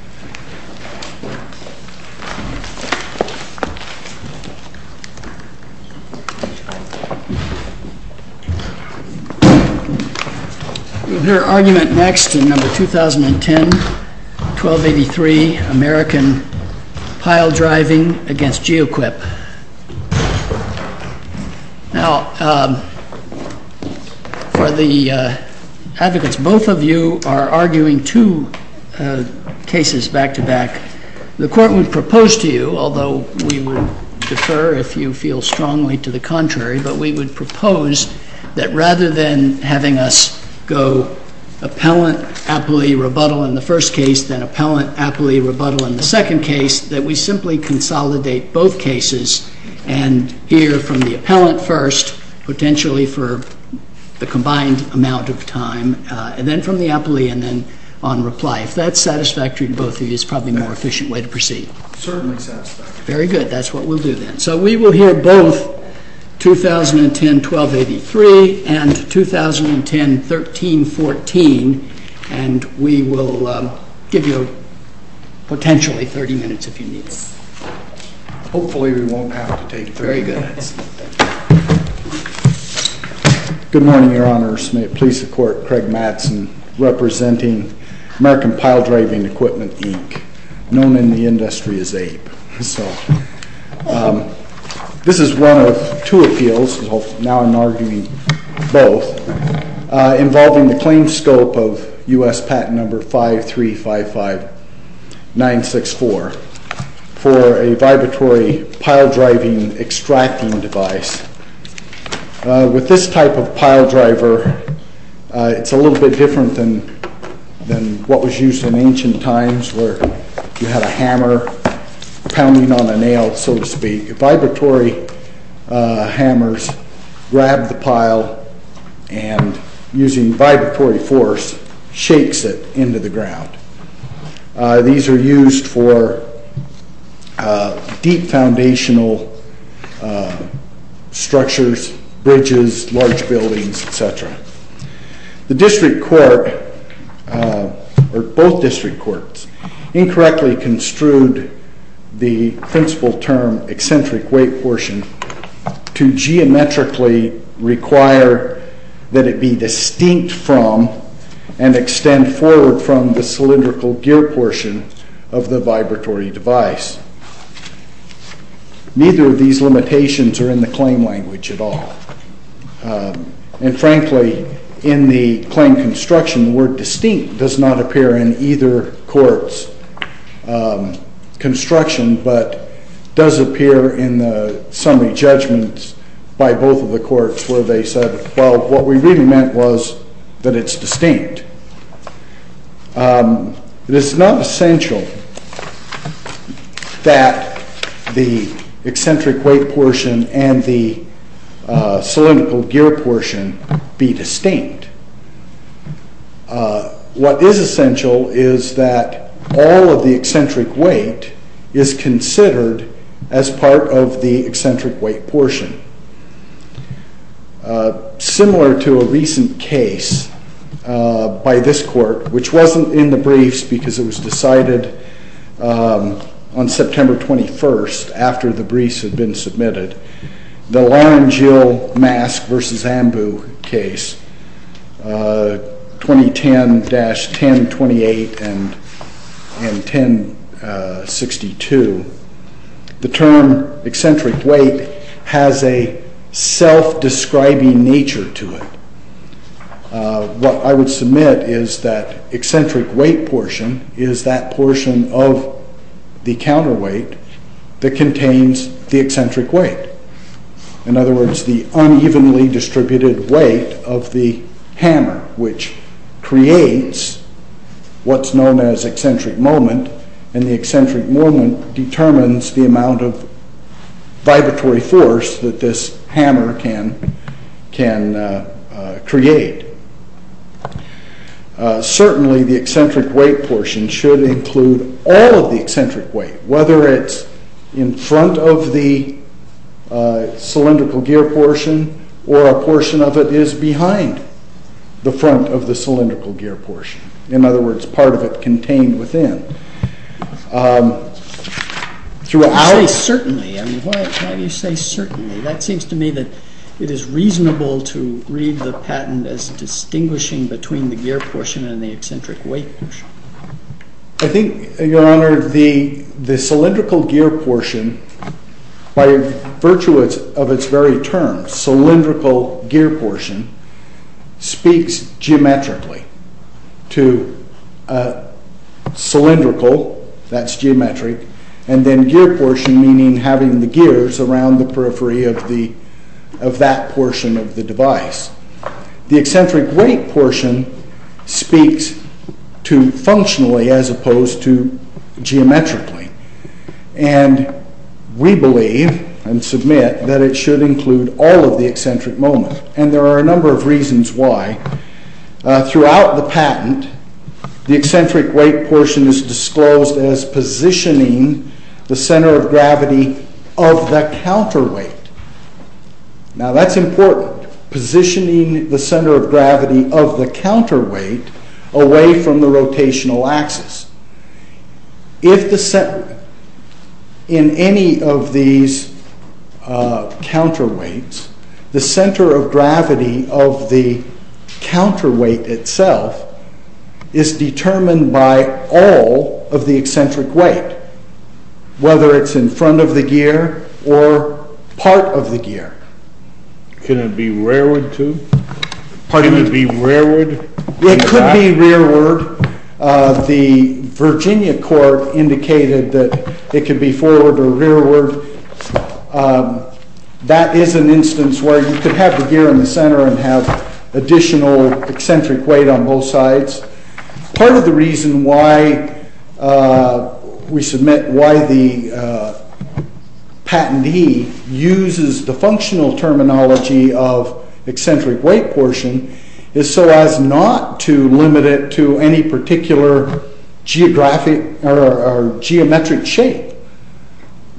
You will hear argument next in No. 2010, 1283, American Piledriving v. GEOQUIP. Now, for the advocates, both of you are arguing two cases back-to-back. The Court would propose to you, although we would defer if you feel strongly to the contrary, but we would propose that rather than having us go appellant, appellee, rebuttal in the first case, then appellant, appellee, rebuttal in the second case, that we simply consolidate both cases and hear from the appellant first, potentially for the combined amount of time, and then from the appellee, and then on reply. If that's satisfactory to both of you, it's probably a more efficient way to proceed. CERTAINLY SATISFACTORY. Very good. That's what we'll do then. So we will hear both 2010-1283 and 2010-1314, and we will give you potentially 30 minutes if you need us. HOPEFULLY WE WON'T HAVE TO TAKE 30 MINUTES. Good morning, Your Honors. May it please the Court, Craig Madsen, representing American Piledriving Equipment, Inc., known in the industry as APE. This is one of two appeals, now I'm arguing both, involving the claim scope of U.S. Patent Number 5355964 for a vibratory piledriving extracting device. With this type of piledriver, it's a little bit different than what was used in ancient times where you had a hammer pounding on a nail, so to speak. Vibratory hammers grab the pile and, using vibratory force, shakes it into the ground. These are used for deep foundational structures, bridges, large buildings, etc. The District Court, or both District Courts, incorrectly construed the principle term eccentric weight portion to geometrically require that it be distinct from and extend forward from the cylindrical gear portion of the vibratory device. Neither of these limitations are in the claim language at all. And, frankly, in the claim construction, the word distinct does not appear in either court's construction but does appear in the summary judgments by both of the courts where they said, well, what we really meant was that it's distinct. It is not essential that the eccentric weight portion and the cylindrical gear portion be distinct. What is essential is that all of the eccentric weight is considered as part of the eccentric weight portion. Similar to a recent case by this court, which wasn't in the briefs because it was decided on September 21st after the briefs had been submitted, the Lauren Jill Mask versus Ambu case, 2010-1028 and 1062, the term eccentric weight has a self-describing nature to it. What I would submit is that eccentric weight portion is that portion of the counterweight that contains the eccentric weight. In other words, the unevenly distributed weight of the hammer which creates what's known as eccentric moment, and the eccentric moment determines the amount of vibratory force that this hammer can create. Certainly, the eccentric weight portion should include all of the eccentric weight, whether it's in front of the cylindrical gear portion or a portion of it is behind the front of the cylindrical gear portion. In other words, part of it contained within. Why do you say certainly? That seems to me that it is reasonable to read the patent as distinguishing between the gear portion and the eccentric weight portion. I think, Your Honor, the cylindrical gear portion, by virtue of its very term, cylindrical gear portion, speaks geometrically to cylindrical, that's geometric, and then gear portion, meaning having the gears around the periphery of that portion of the device. The eccentric weight portion speaks to functionally as opposed to geometrically, and we believe and submit that it should include all of the eccentric moment, and there are a number of reasons why. Throughout the patent, the eccentric weight portion is disclosed as positioning the center of gravity of the counterweight. Now, that's important, positioning the center of gravity of the counterweight away from the rotational axis. If the center, in any of these counterweights, the center of gravity of the counterweight itself is determined by all of the eccentric weight, whether it's in front of the gear or part of the gear. Can it be rearward, too? Pardon me? Can it be rearward? It could be rearward. The Virginia court indicated that it could be forward or rearward. That is an instance where you could have the gear in the center and have additional eccentric weight on both sides. Part of the reason why we submit why the patentee uses the functional terminology of eccentric weight portion is so as not to limit it to any particular geometric shape.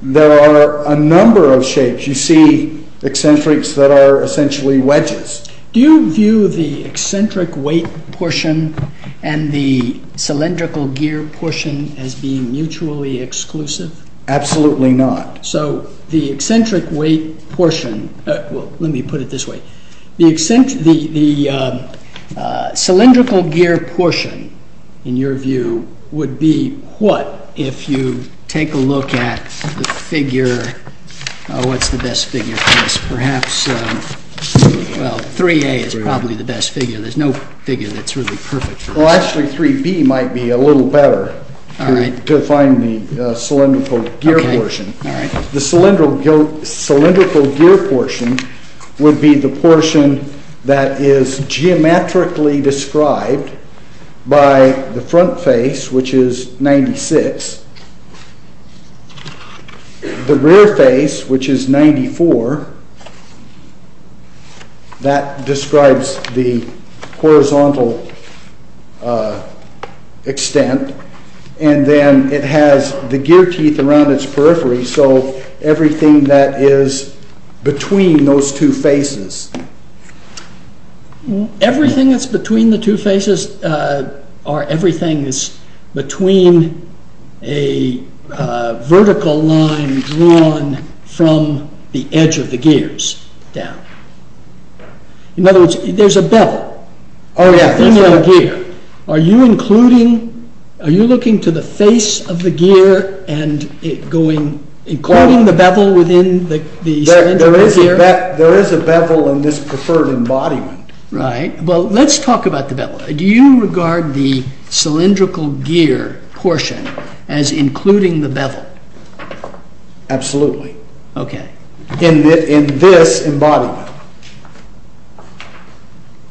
There are a number of shapes. You see eccentrics that are essentially wedges. Do you view the eccentric weight portion and the cylindrical gear portion as being mutually exclusive? Absolutely not. So the eccentric weight portion, let me put it this way, the cylindrical gear portion, in your view, would be what if you take a look at the figure, what's the best figure Yes, perhaps 3A is probably the best figure. There's no figure that's really perfect for this. Actually, 3B might be a little better to find the cylindrical gear portion. The cylindrical gear portion would be the portion that is geometrically described by the front face, which is 96, the rear face, which is 94. That describes the horizontal extent, and then it has the gear teeth around its periphery, so everything that is between those two faces. Everything that's between the two faces, or everything that's between a vertical line drawn from the edge of the gears down. In other words, there's a bevel in your gear. Are you including, are you looking to the face of the gear and including the bevel within the cylindrical gear? There is a bevel in this preferred embodiment. Right, well let's talk about the bevel. Do you regard the cylindrical gear portion as including the bevel? Absolutely. Okay. In this embodiment.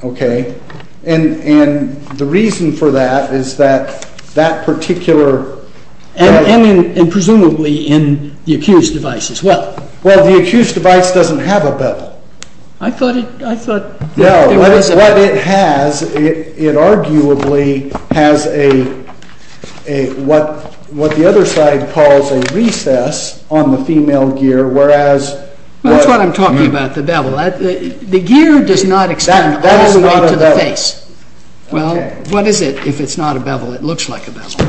Okay, and the reason for that is that that particular... And presumably in the accused device as well. Well, the accused device doesn't have a bevel. I thought it, I thought... No, what it has, it arguably has a, what the other side calls a recess on the female gear, whereas... That's what I'm talking about, the bevel. The gear does not extend all the way to the face. That is not a bevel. Well, what is it if it's not a bevel? It looks like a bevel.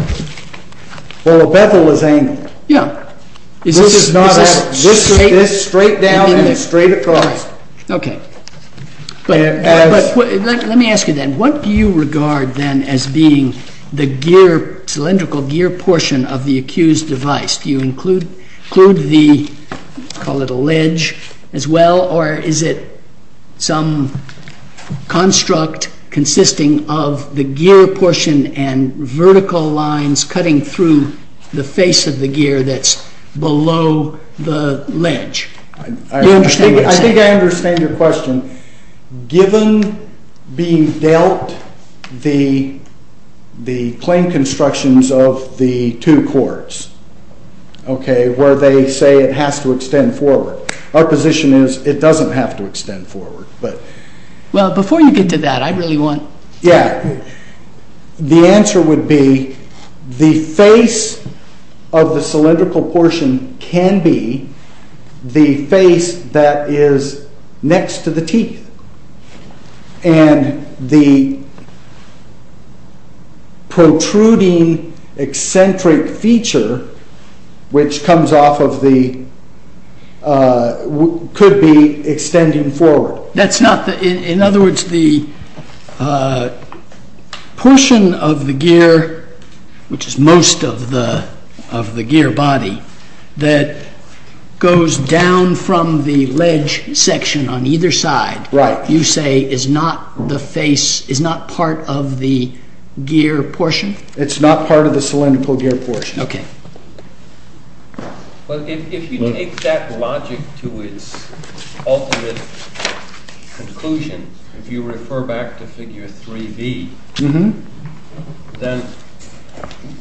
Well, a bevel is angled. Yeah. This is straight down and straight across. Okay. But let me ask you then, what do you regard then as being the gear, cylindrical gear portion of the accused device? Do you include the, call it a ledge as well, or is it some construct consisting of the gear that's below the ledge? I think I understand your question. Given being dealt the claim constructions of the two courts, okay, where they say it has to extend forward. Our position is it doesn't have to extend forward, but... Well, before you get to that, I really want... Yeah. The answer would be the face of the cylindrical portion can be the face that is next to the teeth. And the protruding eccentric feature, which comes off of the, could be extending forward. In other words, the portion of the gear, which is most of the gear body, that goes down from the ledge section on either side, you say is not the face, is not part of the gear portion? It's not part of the cylindrical gear portion. Okay. But if you take that logic to its ultimate conclusion, if you refer back to figure 3B, then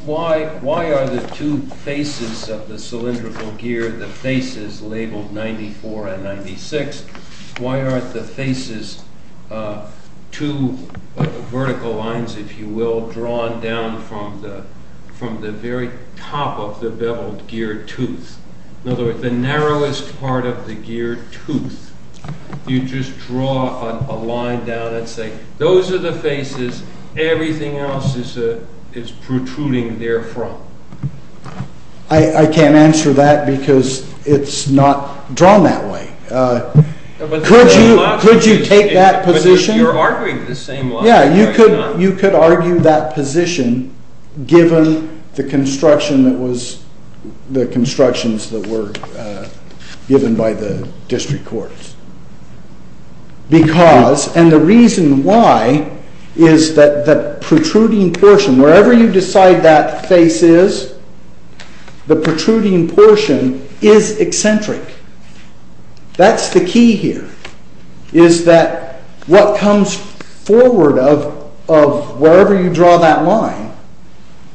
why are the two faces of the cylindrical gear, the faces labeled 94 and 96, why aren't the faces two vertical lines, if you will, drawn down from the very top of the beveled gear tooth? In other words, the narrowest part of the gear tooth. You just draw a line down and say, those are the faces, everything else is protruding therefrom. I can't answer that because it's not drawn that way. Could you take that position? But you're arguing the same logic, are you not? Yeah, you could argue that position given the construction that was, the constructions that were given by the district courts. Because, and the reason why, is that the protruding portion, wherever you decide that face is, the protruding portion is eccentric. That's the key here, is that what comes forward of wherever you draw that line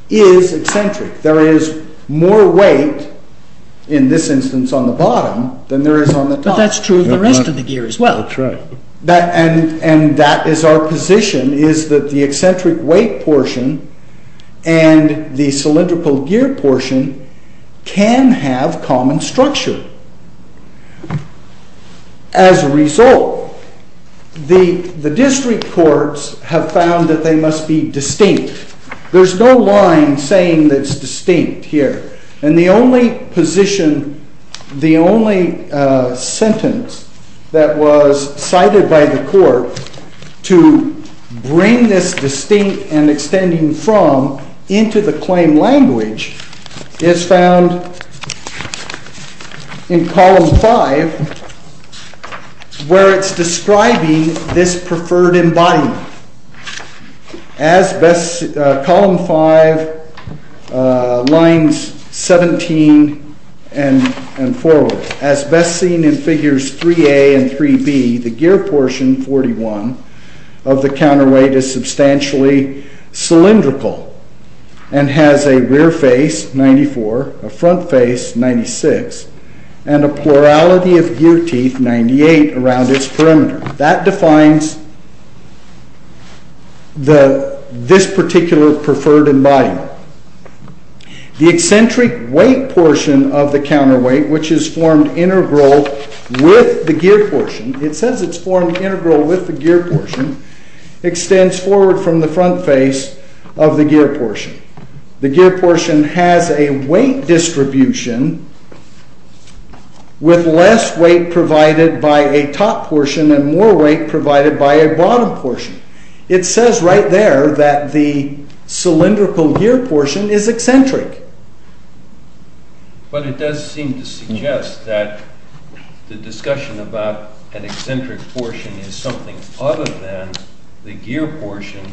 is eccentric. There is more weight in this instance on the bottom than there is on the top. But that's true of the rest of the gear as well. That's right. And that is our position, is that the eccentric weight portion and the cylindrical gear portion can have common structure. As a result, the district courts have found that they must be distinct. There's no line saying that it's distinct here. And the only position, the only sentence that was cited by the court to bring this distinct and extending from into the claim language is found in column 5, where it's describing this preferred embodiment. As best, column 5, lines 17 and forward, as best seen in figures 3A and 3B, the gear portion, 41, of the counterweight is substantially cylindrical and has a rear face, 94, a front face, 96, and a plurality of gear teeth, 98, around its perimeter. That defines this particular preferred embodiment. The eccentric weight portion of the counterweight, which is formed integral with the gear portion, it says it's formed integral with the gear portion, extends forward from the front face of the gear portion. The gear portion has a weight distribution with less weight provided by a top portion and more weight provided by a bottom portion. It says right there that the cylindrical gear portion is eccentric. But it does seem to suggest that the discussion about an eccentric portion is something other than the gear portion,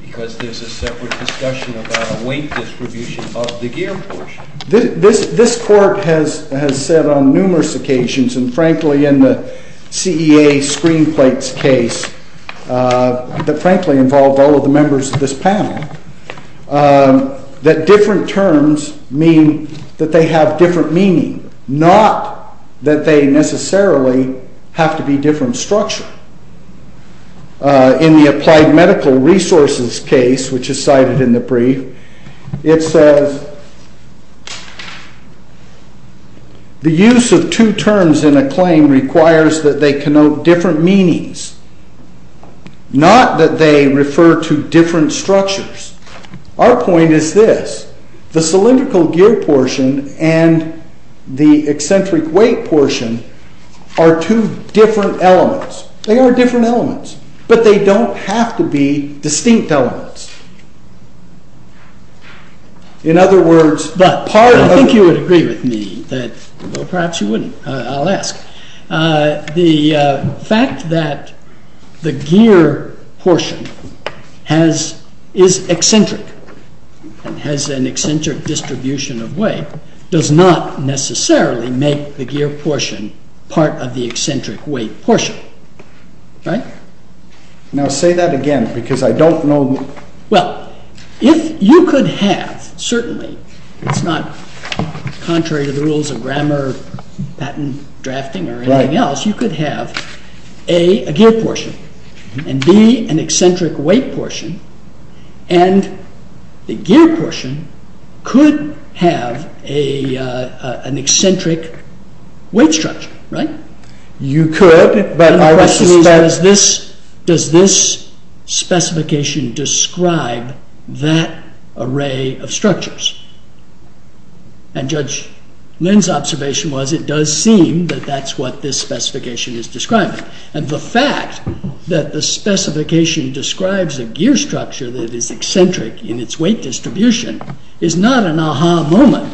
because there's a separate discussion about a weight distribution of the gear portion. This court has said on numerous occasions, and frankly in the CEA screenplates case, that frankly involved all of the members of this panel, that different terms mean that they have different meaning, not that they necessarily have to be different structure. In the applied medical resources case, which is cited in the brief, it says the use of two terms in a claim requires that they connote different meanings, not that they refer to different structures. Our point is this, the cylindrical gear portion and the eccentric weight portion are two different elements. They are different elements, but they don't have to be distinct elements. In other words, part of... I think you would agree with me that, well perhaps you wouldn't. I'll ask. The fact that the gear portion is eccentric, has an eccentric distribution of weight, does not necessarily make the gear portion part of the eccentric weight portion. Right? Now say that again, because I don't know... Well, if you could have, certainly, it's not contrary to the rules of grammar, patent drafting or anything else, you could have A, a gear portion, and B, an eccentric weight portion, and the gear portion could have an eccentric weight structure. Right? You could, but I would suspect... And the question is, does this specification describe that array of structures? And Judge Lin's observation was, it does seem that that's what this specification is describing. And the fact that the specification describes a gear structure that is eccentric in its weight distribution, is not an aha moment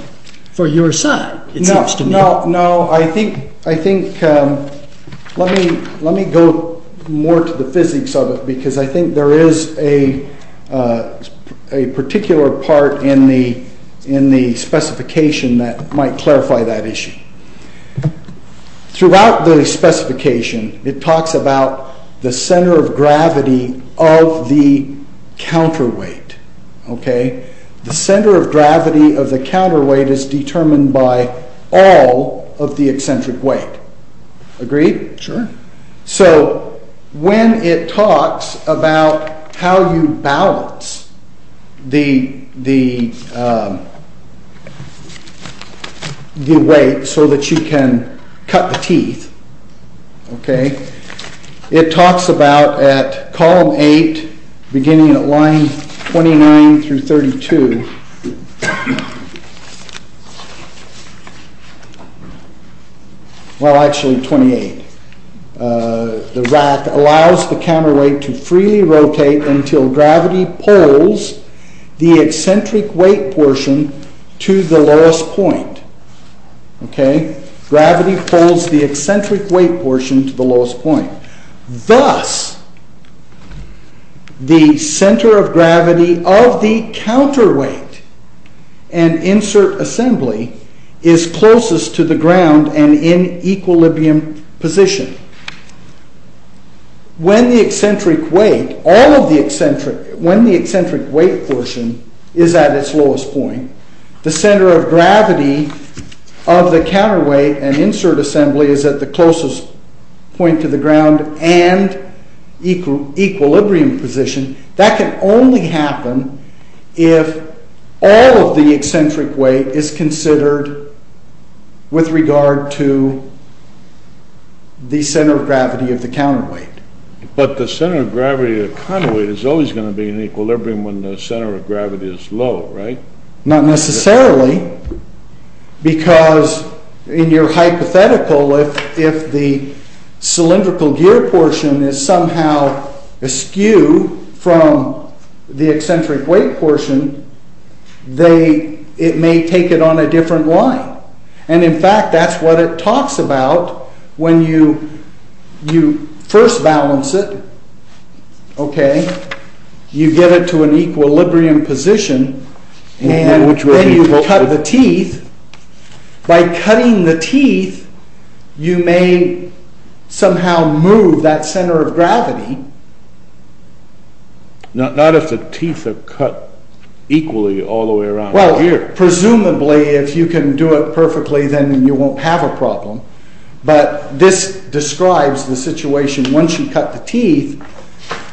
for your side, it seems to me. No, no, I think... Let me go more to the physics of it, because I think there is a particular part in the specification that might clarify that issue. Throughout the specification, it talks about the center of gravity of the counterweight. Okay? The center of gravity of the counterweight is determined by all of the eccentric weight. Agreed? Sure. So, when it talks about how you balance the weight so that you can cut the teeth, okay, it talks about, at column 8, beginning at line 29 through 32... Well, actually 28. The rack allows the counterweight to freely rotate until gravity pulls the eccentric weight portion to the lowest point. Okay? Gravity pulls the eccentric weight portion to the lowest point. Thus, the center of gravity of the counterweight and insert assembly is closest to the ground and in equilibrium position. When the eccentric weight, all of the eccentric... When the eccentric weight portion is at its lowest point, the center of gravity of the counterweight and insert assembly is at the closest point to the ground and equilibrium position. That can only happen if all of the eccentric weight is considered with regard to the center of gravity of the counterweight. But the center of gravity of the counterweight is always going to be in equilibrium when the center of gravity is low, right? Not necessarily, because in your hypothetical, if the cylindrical gear portion is somehow askew from the eccentric weight portion, it may take it on a different line. And in fact, that's what it talks about when you first balance it, okay, you get it to an equilibrium position and then you cut the teeth. By cutting the teeth, you may somehow move that center of gravity. Not if the teeth are cut equally all the way around here. Well, presumably, if you can do it perfectly, then you won't have a problem. But this describes the situation, once you cut the teeth,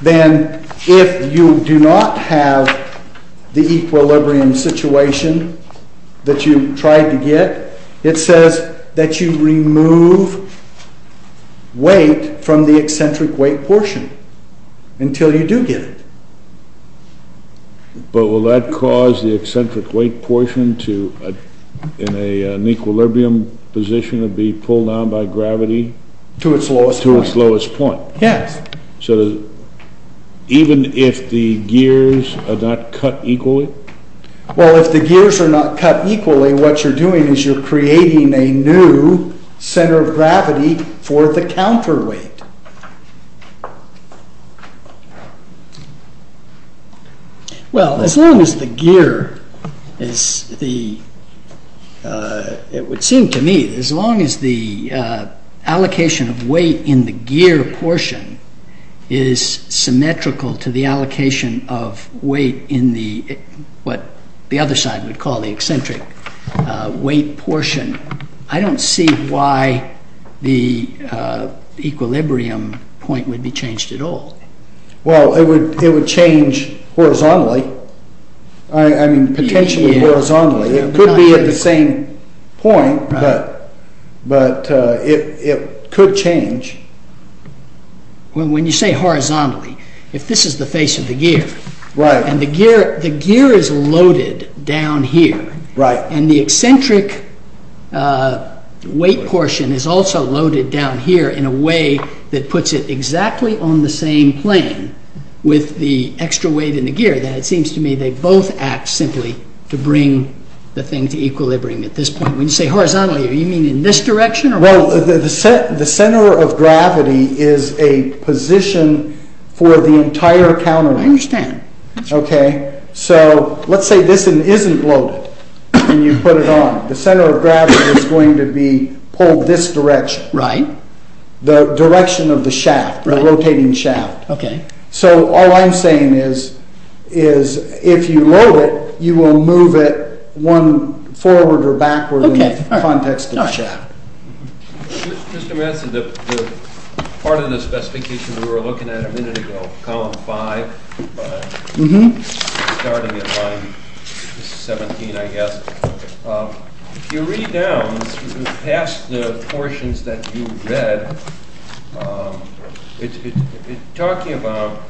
then if you do not have the equilibrium situation that you tried to get, it says that you remove weight from the eccentric weight portion until you do get it. But will that cause the eccentric weight portion to, in an equilibrium position, to be pulled down by gravity? To its lowest point. To its lowest point. Yes. So even if the gears are not cut equally? Well, if the gears are not cut equally, what you're doing is you're creating a new center of gravity for the counterweight. Well, as long as the gear, it would seem to me, as long as the allocation of weight in the gear portion is symmetrical to the allocation of weight in the, what the other side would call the eccentric weight portion, I don't see why the equilibrium point would be changed at all. Well, it would change horizontally. I mean, potentially horizontally. It could be at the same point, but it could change. When you say horizontally, if this is the face of the gear, and the gear is loaded down here, and the eccentric weight portion is also loaded down here in a way that puts it exactly on the same plane with the extra weight in the gear, then it seems to me they both act simply to bring the thing to equilibrium at this point. When you say horizontally, do you mean in this direction? Well, the center of gravity is a position for the entire counterweight. I understand. Okay? So, let's say this isn't loaded, and you put it on. The center of gravity is going to be pulled this direction. Right. The direction of the shaft, the rotating shaft. Okay. So, all I'm saying is, if you load it, you will move it forward or backward in the context of the shaft. Mr. Manson, the part of the specification we were looking at a minute ago, column 5, starting at line 17, I guess. If you read down past the portions that you read, it's talking about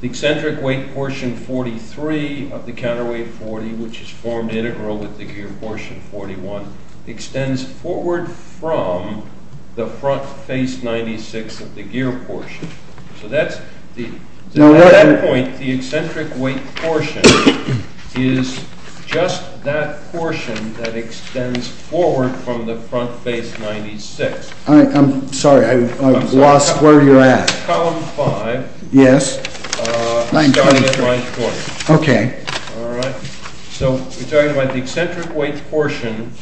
the eccentric weight portion 43 of the counterweight 40, which is formed integral with the gear portion 41, extends forward from the front face 96 of the gear portion. So, at that point, the eccentric weight portion is just that portion that extends forward from the front face 96. I'm sorry, I've lost where you're at. So, column 5, starting at line 40. Okay. All right? So, we're talking about the eccentric weight portion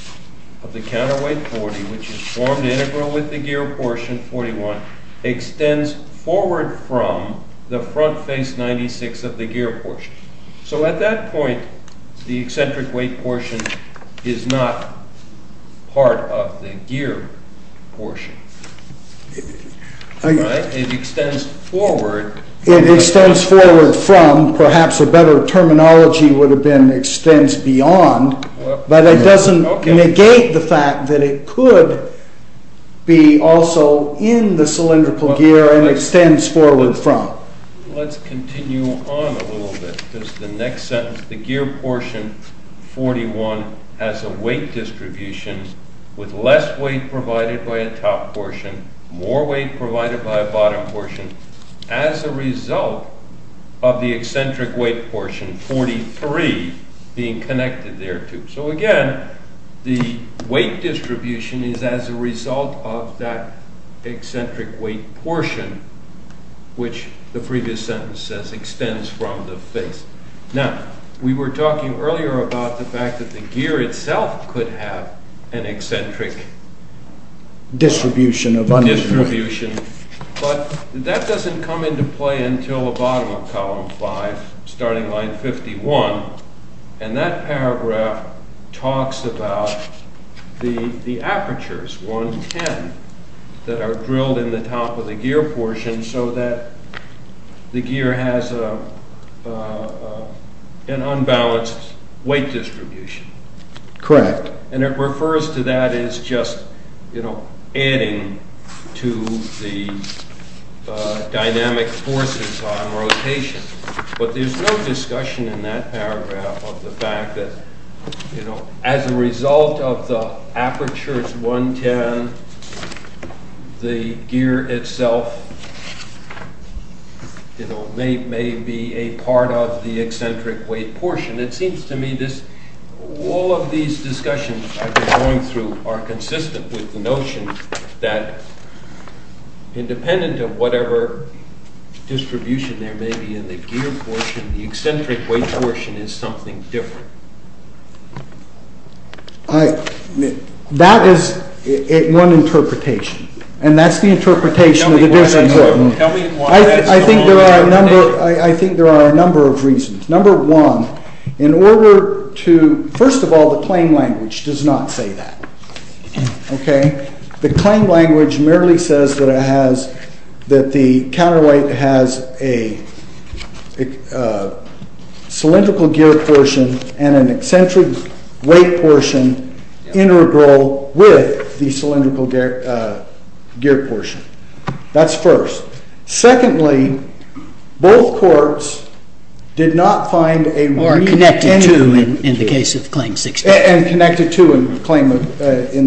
of the counterweight 40, which is formed integral with the gear portion 41, extends forward from the front face 96 of the gear portion. So, at that point, the eccentric weight portion is not part of the gear portion. Right? It extends forward. It extends forward from, perhaps a better terminology would have been extends beyond, but it doesn't negate the fact that it could be also in the cylindrical gear and extends forward from. Let's continue on a little bit. The next sentence, the gear portion 41 has a weight distribution with less weight provided by a top portion, more weight provided by a bottom portion. As a result of the eccentric weight portion 43 being connected there too. So, again, the weight distribution is as a result of that eccentric weight portion, which the previous sentence says extends from the face. Now, we were talking earlier about the fact that the gear itself could have an eccentric distribution. Distribution, but that doesn't come into play until the bottom of column 5, starting line 51. And that paragraph talks about the apertures 110 that are drilled in the top of the gear portion so that the gear has an unbalanced weight distribution. Correct. And it refers to that as just adding to the dynamic forces on rotation. But there's no discussion in that paragraph of the fact that as a result of the apertures 110, the gear itself may be a part of the eccentric weight portion. And it seems to me that all of these discussions I've been going through are consistent with the notion that independent of whatever distribution there may be in the gear portion, the eccentric weight portion is something different. That is one interpretation. And that's the interpretation that is important. I think there are a number of reasons. Number one, in order to, first of all, the claim language does not say that. Okay? The claim language merely says that the counterweight has a cylindrical gear portion and an eccentric weight portion integral with the cylindrical gear portion. That's first. Secondly, both courts did not find a... Or connected to in the case of claim 16. And connected to in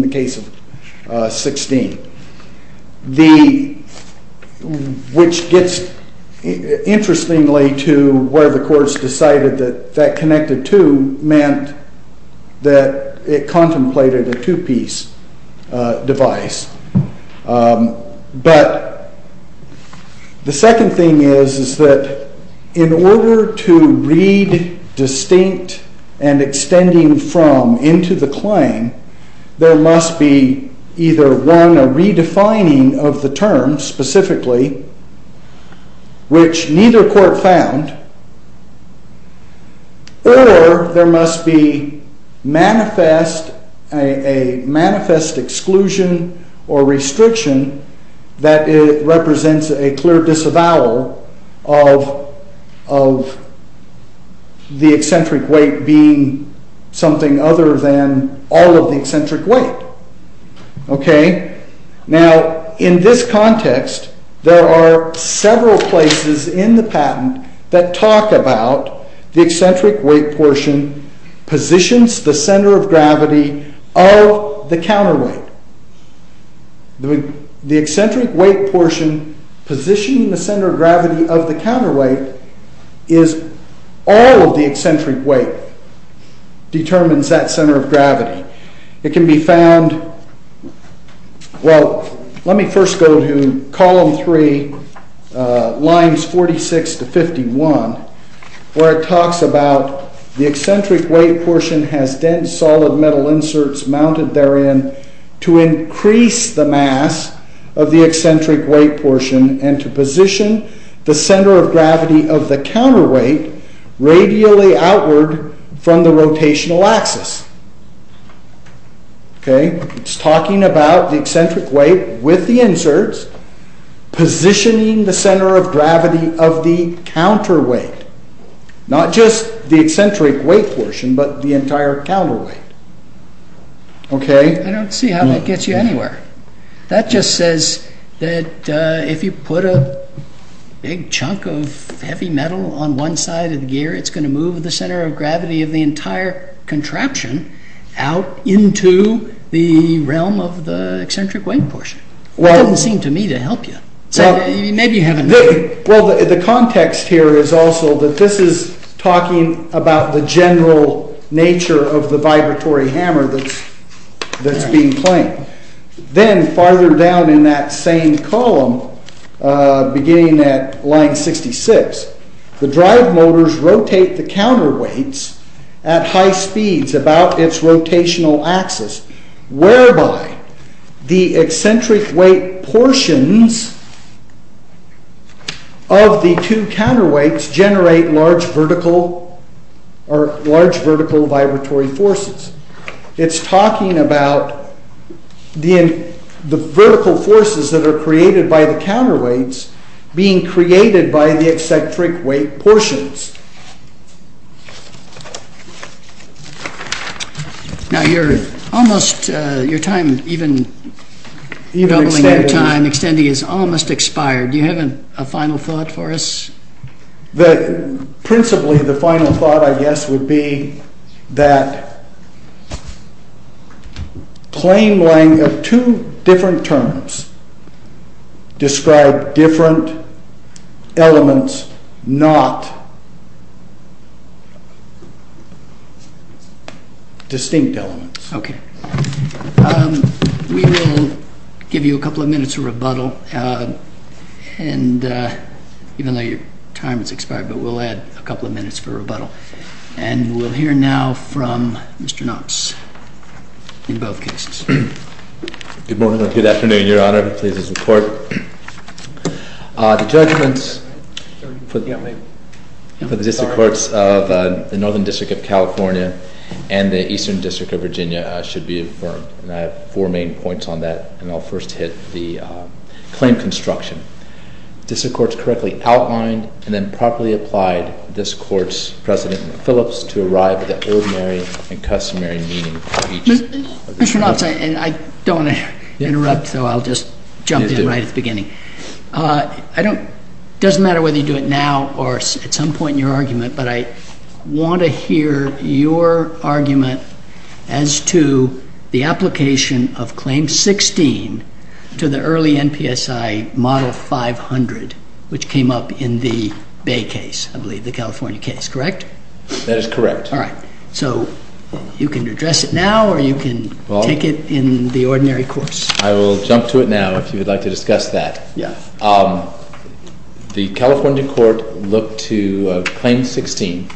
the case of 16. Which gets, interestingly, to where the courts decided that that connected to meant that it contemplated a two-piece device. But the second thing is that in order to read distinct and extending from into the claim, there must be either one, a redefining of the term specifically, which neither court found. Or there must be a manifest exclusion or restriction that represents a clear disavowal of the eccentric weight being something other than all of the eccentric weight. Okay? Now, in this context, there are several places in the patent that talk about the eccentric weight portion positions the center of gravity of the counterweight. The eccentric weight portion positioning the center of gravity of the counterweight is all of the eccentric weight determines that center of gravity. It can be found... Well, let me first go to column 3, lines 46 to 51, where it talks about the eccentric weight portion has dense solid metal inserts mounted therein to increase the mass of the eccentric weight portion and to position the center of gravity of the counterweight radially outward from the rotational axis. Okay? It's talking about the eccentric weight with the inserts positioning the center of gravity of the counterweight. Not just the eccentric weight portion, but the entire counterweight. Okay? I don't see how that gets you anywhere. That just says that if you put a big chunk of heavy metal on one side of the gear, it's going to move the center of gravity of the entire contraption out into the realm of the eccentric weight portion. That doesn't seem to me to help you. Maybe you have a... Well, the context here is also that this is talking about the general nature of the vibratory hammer that's being claimed. Then farther down in that same column, beginning at line 66, the drive motors rotate the counterweights at high speeds about its rotational axis, whereby the eccentric weight portions of the two counterweights generate large vertical vibratory forces. It's talking about the vertical forces that are created by the counterweights being created by the eccentric weight portions. Now your time, even doubling your time, extending, is almost expired. Do you have a final thought for us? Principally, the final thought, I guess, would be that claim laying of two different terms describe different elements, not distinct elements. We will give you a couple of minutes for rebuttal. Even though your time has expired, we'll add a couple of minutes for rebuttal. We'll hear now from Mr. Knox in both cases. Good morning and good afternoon, Your Honor. Pleased to report. The judgments for the District Courts of the Northern District of California and the Eastern District of Virginia should be affirmed. I have four main points on that, and I'll first hit the claim construction. District Courts correctly outlined and then properly applied this Court's precedent in Phillips to arrive at the ordinary and customary meaning of each of the two. Mr. Knox, I don't want to interrupt, so I'll just jump in right at the beginning. It doesn't matter whether you do it now or at some point in your argument, but I want to hear your argument as to the application of Claim 16 to the early NPSI Model 500, which came up in the Bay case, I believe, the California case, correct? That is correct. All right. So you can address it now or you can take it in the ordinary course. I will jump to it now if you would like to discuss that. Yes. The California court looked to Claim 16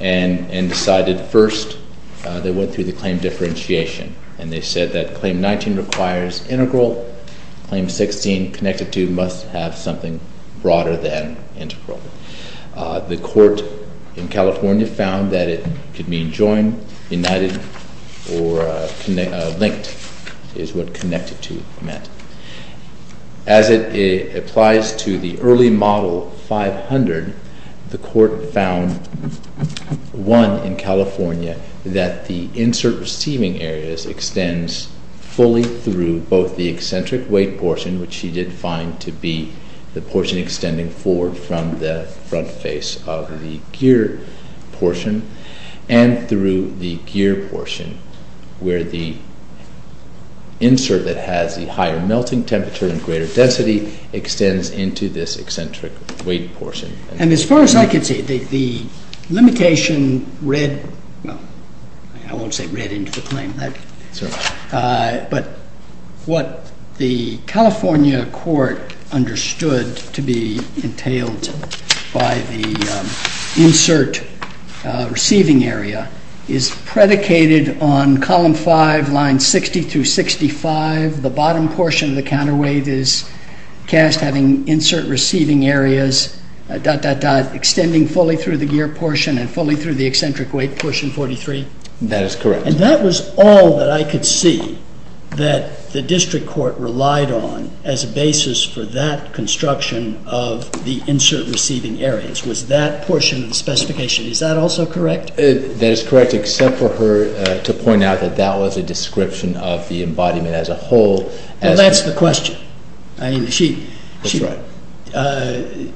and decided first they went through the claim differentiation, and they said that Claim 19 requires integral. Claim 16 connected to must have something broader than integral. The court in California found that it could mean joined, united, or linked is what connected to meant. As it applies to the early Model 500, the court found, one, in California, that the insert receiving areas extends fully through both the eccentric weight portion, which she did find to be the portion extending forward from the front face of the gear portion, and through the gear portion where the insert that has the higher melting temperature and greater density extends into this eccentric weight portion. And as far as I can see, the limitation read, well, I won't say read into the claim, but what the California court understood to be entailed by the insert receiving area is predicated on Column 5, Lines 60 through 65. The bottom portion of the counterweight is cast having insert receiving areas, dot, dot, dot, extending fully through the gear portion and fully through the eccentric weight portion 43. That is correct. And that was all that I could see that the district court relied on as a basis for that construction of the insert receiving areas was that portion of the specification. Is that also correct? That is correct, except for her to point out that that was a description of the embodiment as a whole. Well, that's the question. I mean, she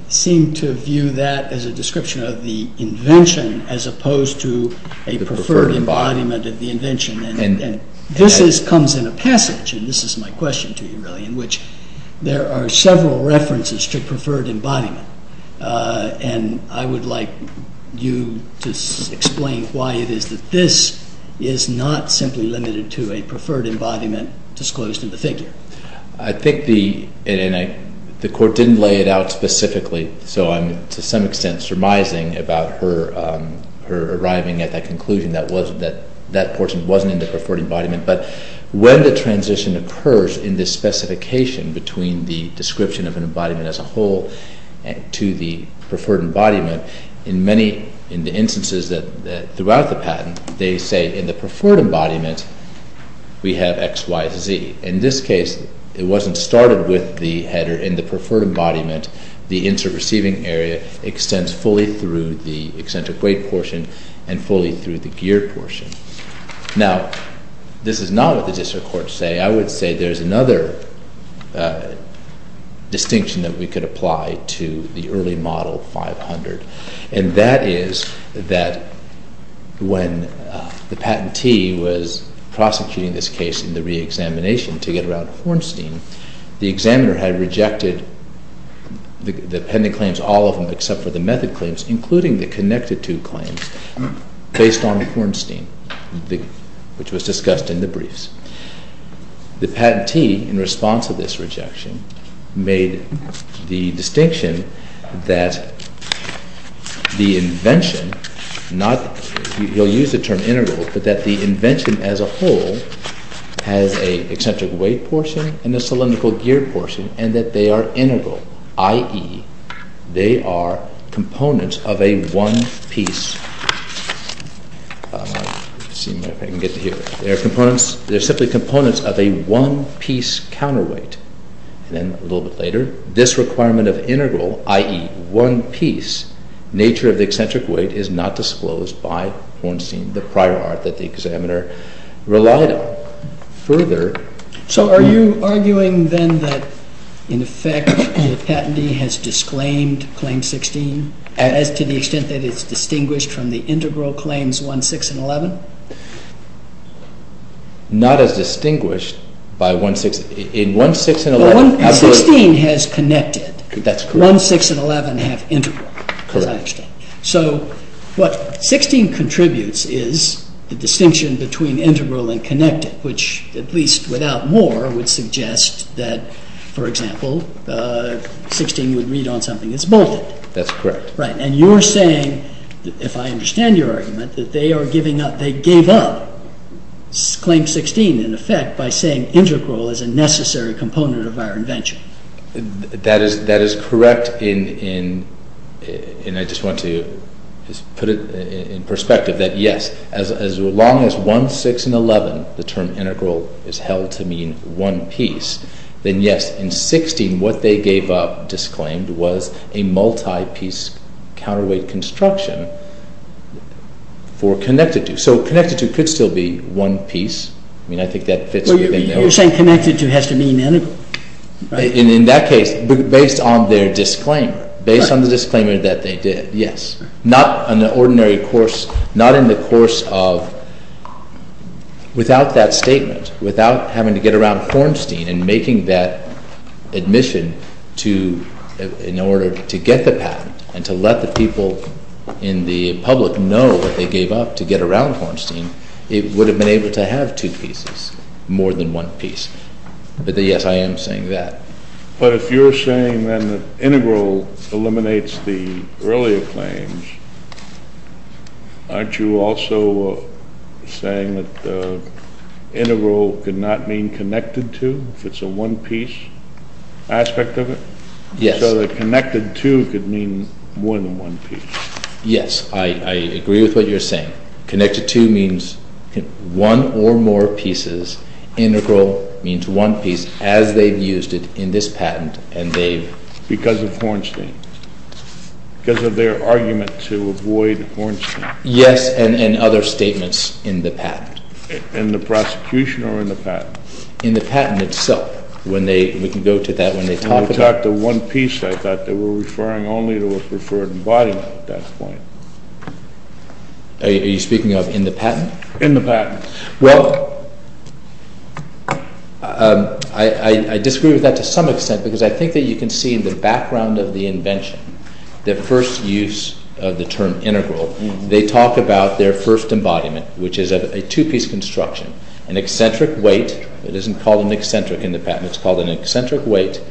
seemed to view that as a description of the invention as opposed to a preferred embodiment of the invention. And this comes in a passage, and this is my question to you really, in which there are several references to preferred embodiment. And I would like you to explain why it is that this is not simply limited to a preferred embodiment disclosed in the figure. I think the court didn't lay it out specifically, so I'm to some extent surmising about her arriving at that conclusion that that portion wasn't in the preferred embodiment. But when the transition occurs in this specification between the description of an embodiment as a whole to the preferred embodiment, in many instances throughout the patent, they say in the preferred embodiment, we have X, Y, Z. In this case, it wasn't started with the header in the preferred embodiment. The insert receiving area extends fully through the eccentric weight portion and fully through the gear portion. Now, this is not what the district courts say. I would say there's another distinction that we could apply to the early Model 500, and that is that when the patentee was prosecuting this case in the reexamination to get around Hornstein, the examiner had rejected the pending claims, all of them except for the method claims, including the connected to claims based on Hornstein, which was discussed in the briefs. The patentee, in response to this rejection, made the distinction that the invention, he'll use the term integral, but that the invention as a whole has an eccentric weight portion and a cylindrical gear portion, and that they are integral, i.e., they are components of a one-piece. Let's see if I can get to here. They're simply components of a one-piece counterweight. And then a little bit later, this requirement of integral, i.e., one piece, nature of the eccentric weight is not disclosed by Hornstein, the prior art that the examiner relied on. Further. So are you arguing then that, in effect, the patentee has disclaimed Claim 16 as to the extent that it's distinguished from the integral claims 1, 6, and 11? Not as distinguished by 1, 6. In 1, 6, and 11, absolutely. Well, 16 has connected. That's correct. 1, 6, and 11 have integral. Correct. So what 16 contributes is the distinction between integral and connected, which, at least without more, would suggest that, for example, 16 would read on something that's bolted. That's correct. Right. And you're saying, if I understand your argument, that they gave up Claim 16, in effect, by saying integral is a necessary component of our invention. That is correct. And I just want to put it in perspective that, yes, as long as 1, 6, and 11, the term integral is held to mean one piece, then, yes, in 16, what they gave up, disclaimed, was a multi-piece counterweight construction for connected to. So connected to could still be one piece. I mean, I think that fits within the— You're saying connected to has to mean integral? In that case, based on their disclaimer, based on the disclaimer that they did, yes. Not in the ordinary course, not in the course of, without that statement, without having to get around Hornstein and making that admission in order to get the patent and to let the people in the public know what they gave up to get around Hornstein, it would have been able to have two pieces, more than one piece. But, yes, I am saying that. But if you're saying, then, that integral eliminates the earlier claims, aren't you also saying that integral could not mean connected to if it's a one-piece aspect of it? Yes. So that connected to could mean more than one piece. Yes, I agree with what you're saying. Connected to means one or more pieces. Integral means one piece, as they've used it in this patent, and they've— Because of Hornstein. Because of their argument to avoid Hornstein. Yes, and other statements in the patent. In the prosecution or in the patent? In the patent itself. When they—we can go to that when they talk about— When they talked of one piece, I thought they were referring only to a preferred embodiment at that point. Are you speaking of in the patent? In the patent. Well, I disagree with that to some extent because I think that you can see in the background of the invention, the first use of the term integral. They talk about their first embodiment, which is a two-piece construction, an eccentric weight. It isn't called an eccentric in the patent. It's called an eccentric weight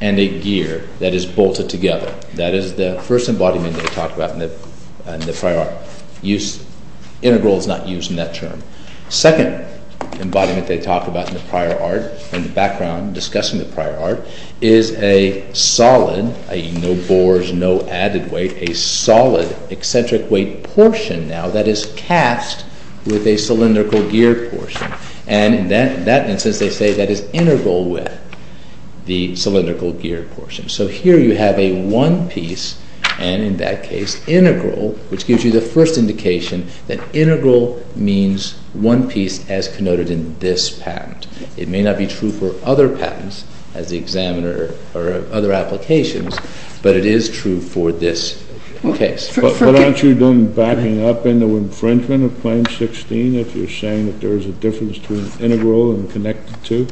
and a gear that is bolted together. That is the first embodiment they talk about in the prior art. Use—integral is not used in that term. Second embodiment they talk about in the prior art, in the background discussing the prior art, is a solid—no bores, no added weight—a solid eccentric weight portion now that is cast with a cylindrical gear portion. And in that instance, they say that is integral with the cylindrical gear portion. So here you have a one piece and, in that case, integral, which gives you the first indication that integral means one piece as connoted in this patent. It may not be true for other patents as the examiner or other applications, but it is true for this case. But aren't you doing backing up into infringement of Claim 16 if you're saying that there is a difference between integral and connected to?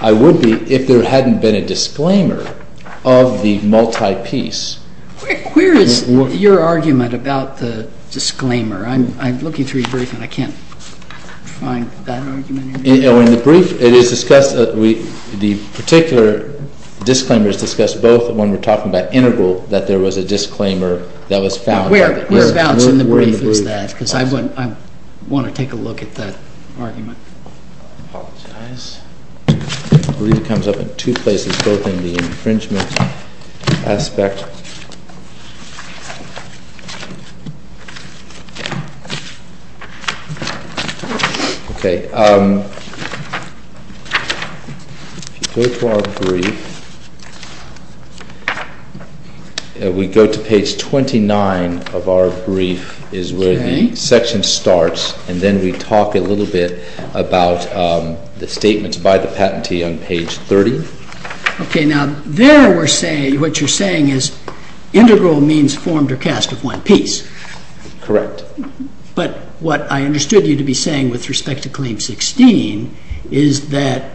I would be if there hadn't been a disclaimer of the multi-piece. Where is your argument about the disclaimer? I'm looking through your brief and I can't find that argument. In the brief, it is discussed—the particular disclaimer is discussed both when we're talking about integral, that there was a disclaimer that was found. Where in the brief is that? Because I want to take a look at that argument. I apologize. The brief comes up in two places, both in the infringement aspect. If you go to our brief, we go to page 29 of our brief, is where the section starts, and then we talk a little bit about the statements by the patentee on page 30. Okay, now there what you're saying is integral means formed or cast of one piece. Correct. But what I understood you to be saying with respect to Claim 16 is that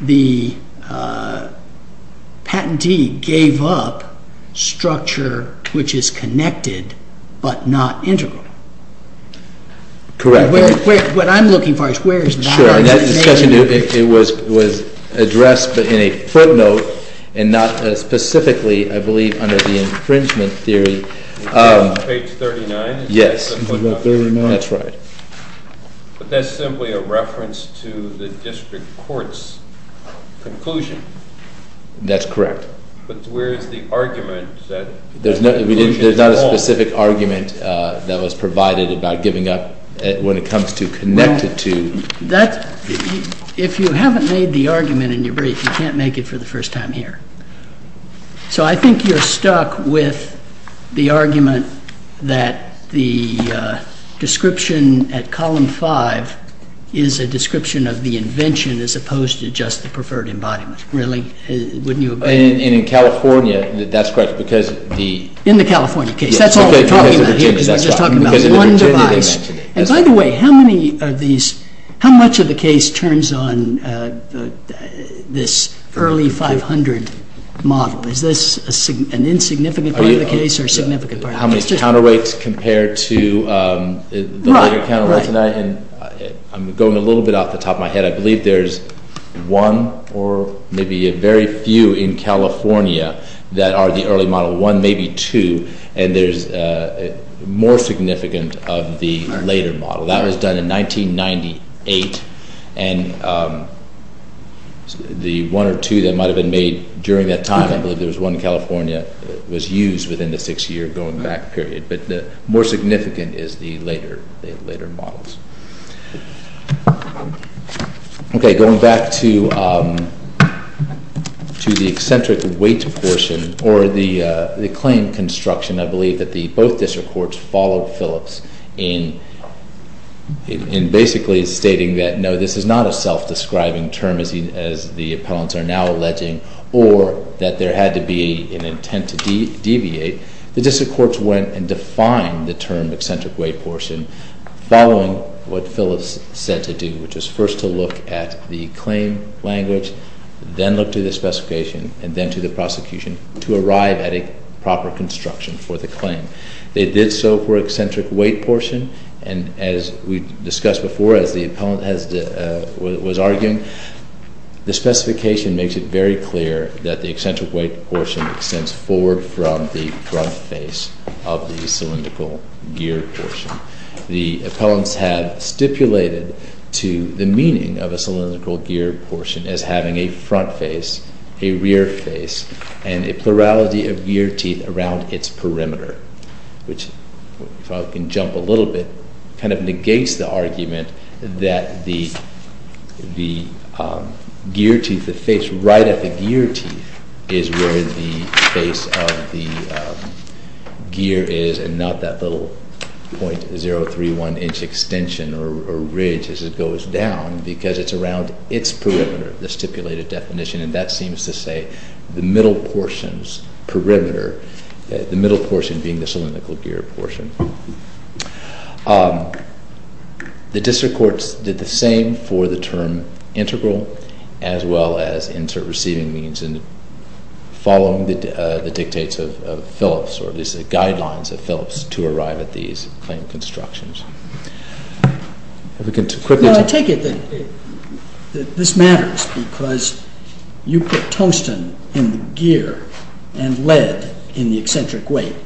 the patentee gave up structure which is connected but not integral. Correct. What I'm looking for is where is that? That discussion was addressed in a footnote and not specifically, I believe, under the infringement theory. Page 39? Yes. That's right. But that's simply a reference to the district court's conclusion. That's correct. But where is the argument? There's not a specific argument that was provided about giving up when it comes to connected to. If you haven't made the argument in your brief, you can't make it for the first time here. So I think you're stuck with the argument that the description at column 5 is a description of the invention as opposed to just the preferred embodiment. Really? Wouldn't you agree? In California, that's correct. In the California case. That's all we're talking about here because we're just talking about one device. By the way, how much of the case turns on this early 500 model? Is this an insignificant part of the case or a significant part of the case? How many counterweights compared to the later counterweights. I'm going a little bit off the top of my head. I believe there's one or maybe a very few in California that are the early model. One, maybe two. And there's more significant of the later model. That was done in 1998. And the one or two that might have been made during that time, I believe there was one in California, was used within the six-year going back period. But more significant is the later models. Okay. Going back to the eccentric weight portion or the claim construction, I believe that both district courts followed Phillips in basically stating that, no, this is not a self-describing term, as the appellants are now alleging, or that there had to be an intent to deviate. The district courts went and defined the term eccentric weight portion following what Phillips said to do, which was first to look at the claim language, then look to the specification, and then to the prosecution to arrive at a proper construction for the claim. They did so for eccentric weight portion. And as we discussed before, as the appellant was arguing, the specification makes it very clear that the eccentric weight portion extends forward from the front face of the cylindrical gear portion. The appellants have stipulated to the meaning of a cylindrical gear portion as having a front face, a rear face, and a plurality of gear teeth around its perimeter, which, if I can jump a little bit, kind of negates the argument that the gear teeth that face right at the gear teeth is where the face of the gear is and not that little .031 inch extension or ridge as it goes down because it's around its perimeter, the stipulated definition, and that seems to say the middle portion's perimeter, the middle portion being the cylindrical gear portion. The district courts did the same for the term integral as well as insert receiving means and following the dictates of Phillips or at least the guidelines of Phillips to arrive at these claim constructions. I take it that this matters because you put tungsten in the gear and lead in the eccentric weight,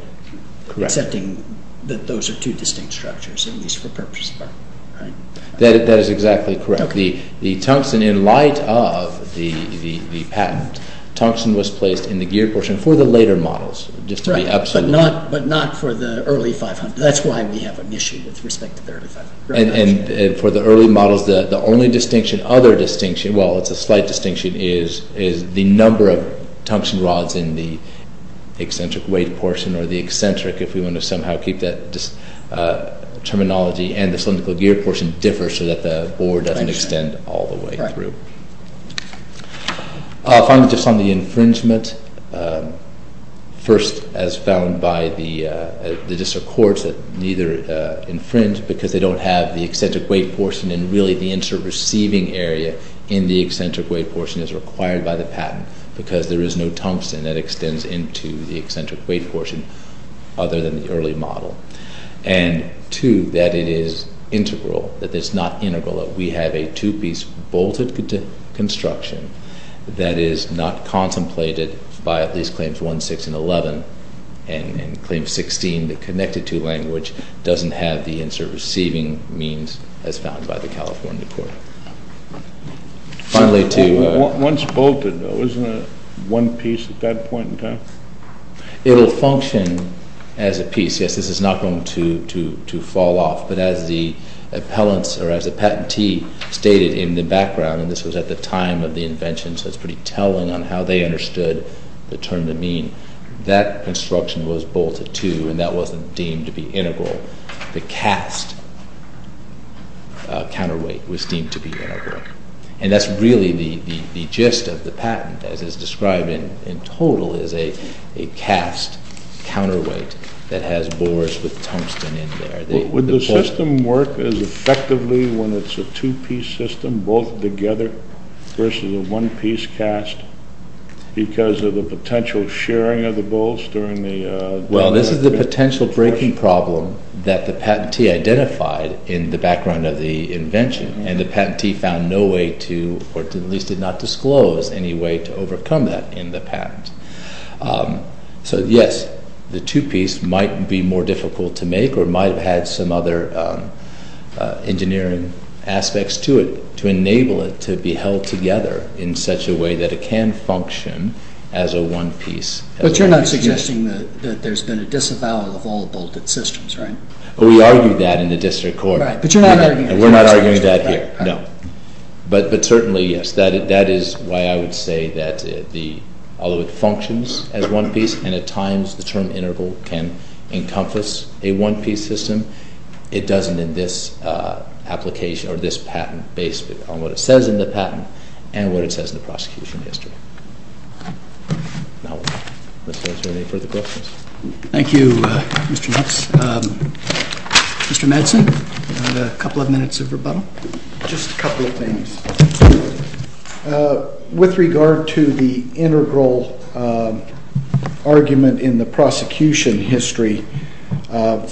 accepting that those are two distinct structures, at least for purposes of argument, right? That is exactly correct. The tungsten, in light of the patent, tungsten was placed in the gear portion for the later models, just to be absolute. But not for the early 500. That's why we have an issue with respect to the early 500. And for the early models, the only distinction, other distinction, well, it's a slight distinction, is the number of tungsten rods in the eccentric weight portion or the eccentric, if we want to somehow keep that terminology, and the cylindrical gear portion differ so that the bore doesn't extend all the way through. Finally, just on the infringement. First, as found by the district courts, that neither infringe because they don't have the eccentric weight portion and really the insert receiving area in the eccentric weight portion is required by the patent because there is no tungsten that extends into the eccentric weight portion other than the early model. And two, that it is integral, that it's not integral, that we have a two-piece bolted construction that is not contemplated by at least claims 1, 6, and 11. And claim 16, the connected-to language, doesn't have the insert receiving means as found by the California court. Finally, to... Once bolted, though, isn't it one piece at that point in time? It will function as a piece. Yes, this is not going to fall off, but as the appellants or as the patentee stated in the background, and this was at the time of the invention, so it's pretty telling on how they understood the term to mean, that construction was bolted to, and that wasn't deemed to be integral. And that's really the gist of the patent, as it's described in total as a cast counterweight that has bores with tungsten in there. Would the system work as effectively when it's a two-piece system bolted together versus a one-piece cast because of the potential shearing of the bolts during the... Well, this is the potential breaking problem that the patentee identified in the background of the invention, and the patentee found no way to, or at least did not disclose any way to overcome that in the patent. So, yes, the two-piece might be more difficult to make or might have had some other engineering aspects to it to enable it to be held together in such a way that it can function as a one-piece. But you're not suggesting that there's been a disavowal of all bolted systems, right? We argue that in the district court. But you're not arguing that. We're not arguing that here, no. But certainly, yes, that is why I would say that although it functions as one piece and at times the term integral can encompass a one-piece system, it doesn't in this application or this patent based on what it says in the patent and what it says in the prosecution history. Now, let's see if there are any further questions. Thank you, Mr. Nutz. Mr. Madsen, you have a couple of minutes of rebuttal. Just a couple of things. With regard to the integral argument in the prosecution history,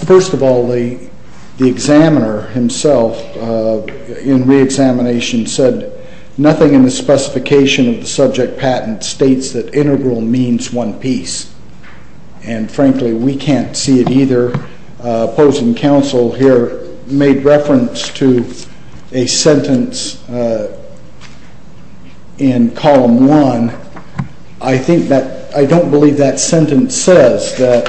first of all, the examiner himself in reexamination said nothing in the specification of the subject patent states that integral means one piece. And, frankly, we can't see it either. Opposing counsel here made reference to a sentence in column one. I don't believe that sentence says that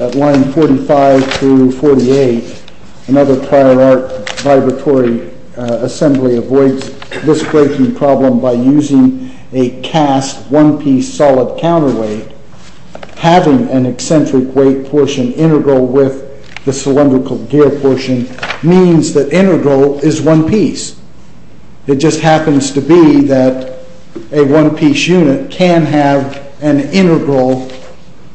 at line 45 through 48, another prior art vibratory assembly avoids this breaking problem by using a cast one-piece solid counterweight. Having an eccentric weight portion integral with the cylindrical gear portion means that integral is one piece. It just happens to be that a one-piece unit can have an integral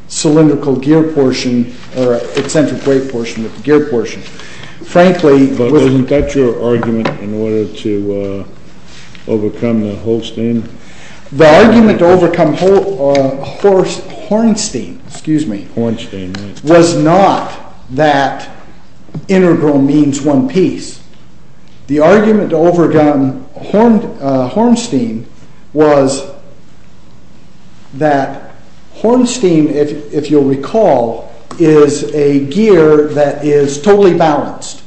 cylindrical gear portion or eccentric weight portion with gear portion. But wasn't that your argument in order to overcome the Holstein? The argument to overcome Hornstein was not that integral means one piece. The argument to overcome Hornstein was that Hornstein, if you'll recall, is a gear that is totally balanced.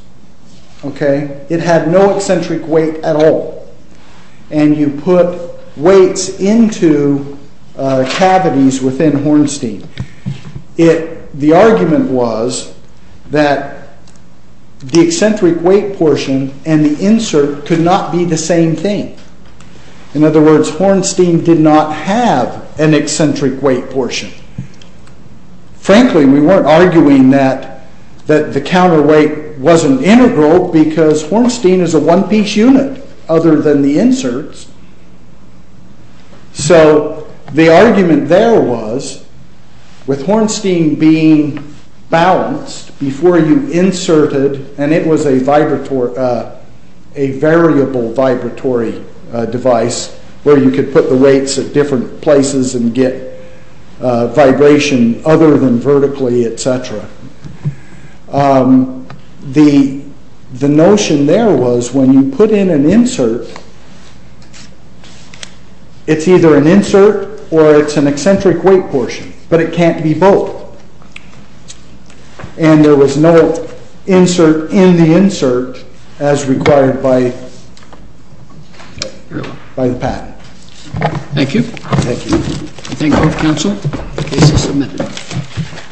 It had no eccentric weight at all. And you put weights into cavities within Hornstein. The argument was that the eccentric weight portion and the insert could not be the same thing. In other words, Hornstein did not have an eccentric weight portion. Frankly, we weren't arguing that the counterweight wasn't integral because Hornstein is a one-piece unit other than the inserts. So the argument there was, with Hornstein being balanced, before you inserted, and it was a variable vibratory device where you could put the weights at different places and get vibration other than vertically, etc. The notion there was, when you put in an insert, it's either an insert or it's an eccentric weight portion, but it can't be both. And there was no insert in the insert as required by the patent. Thank you. I thank both counsel. The case is submitted.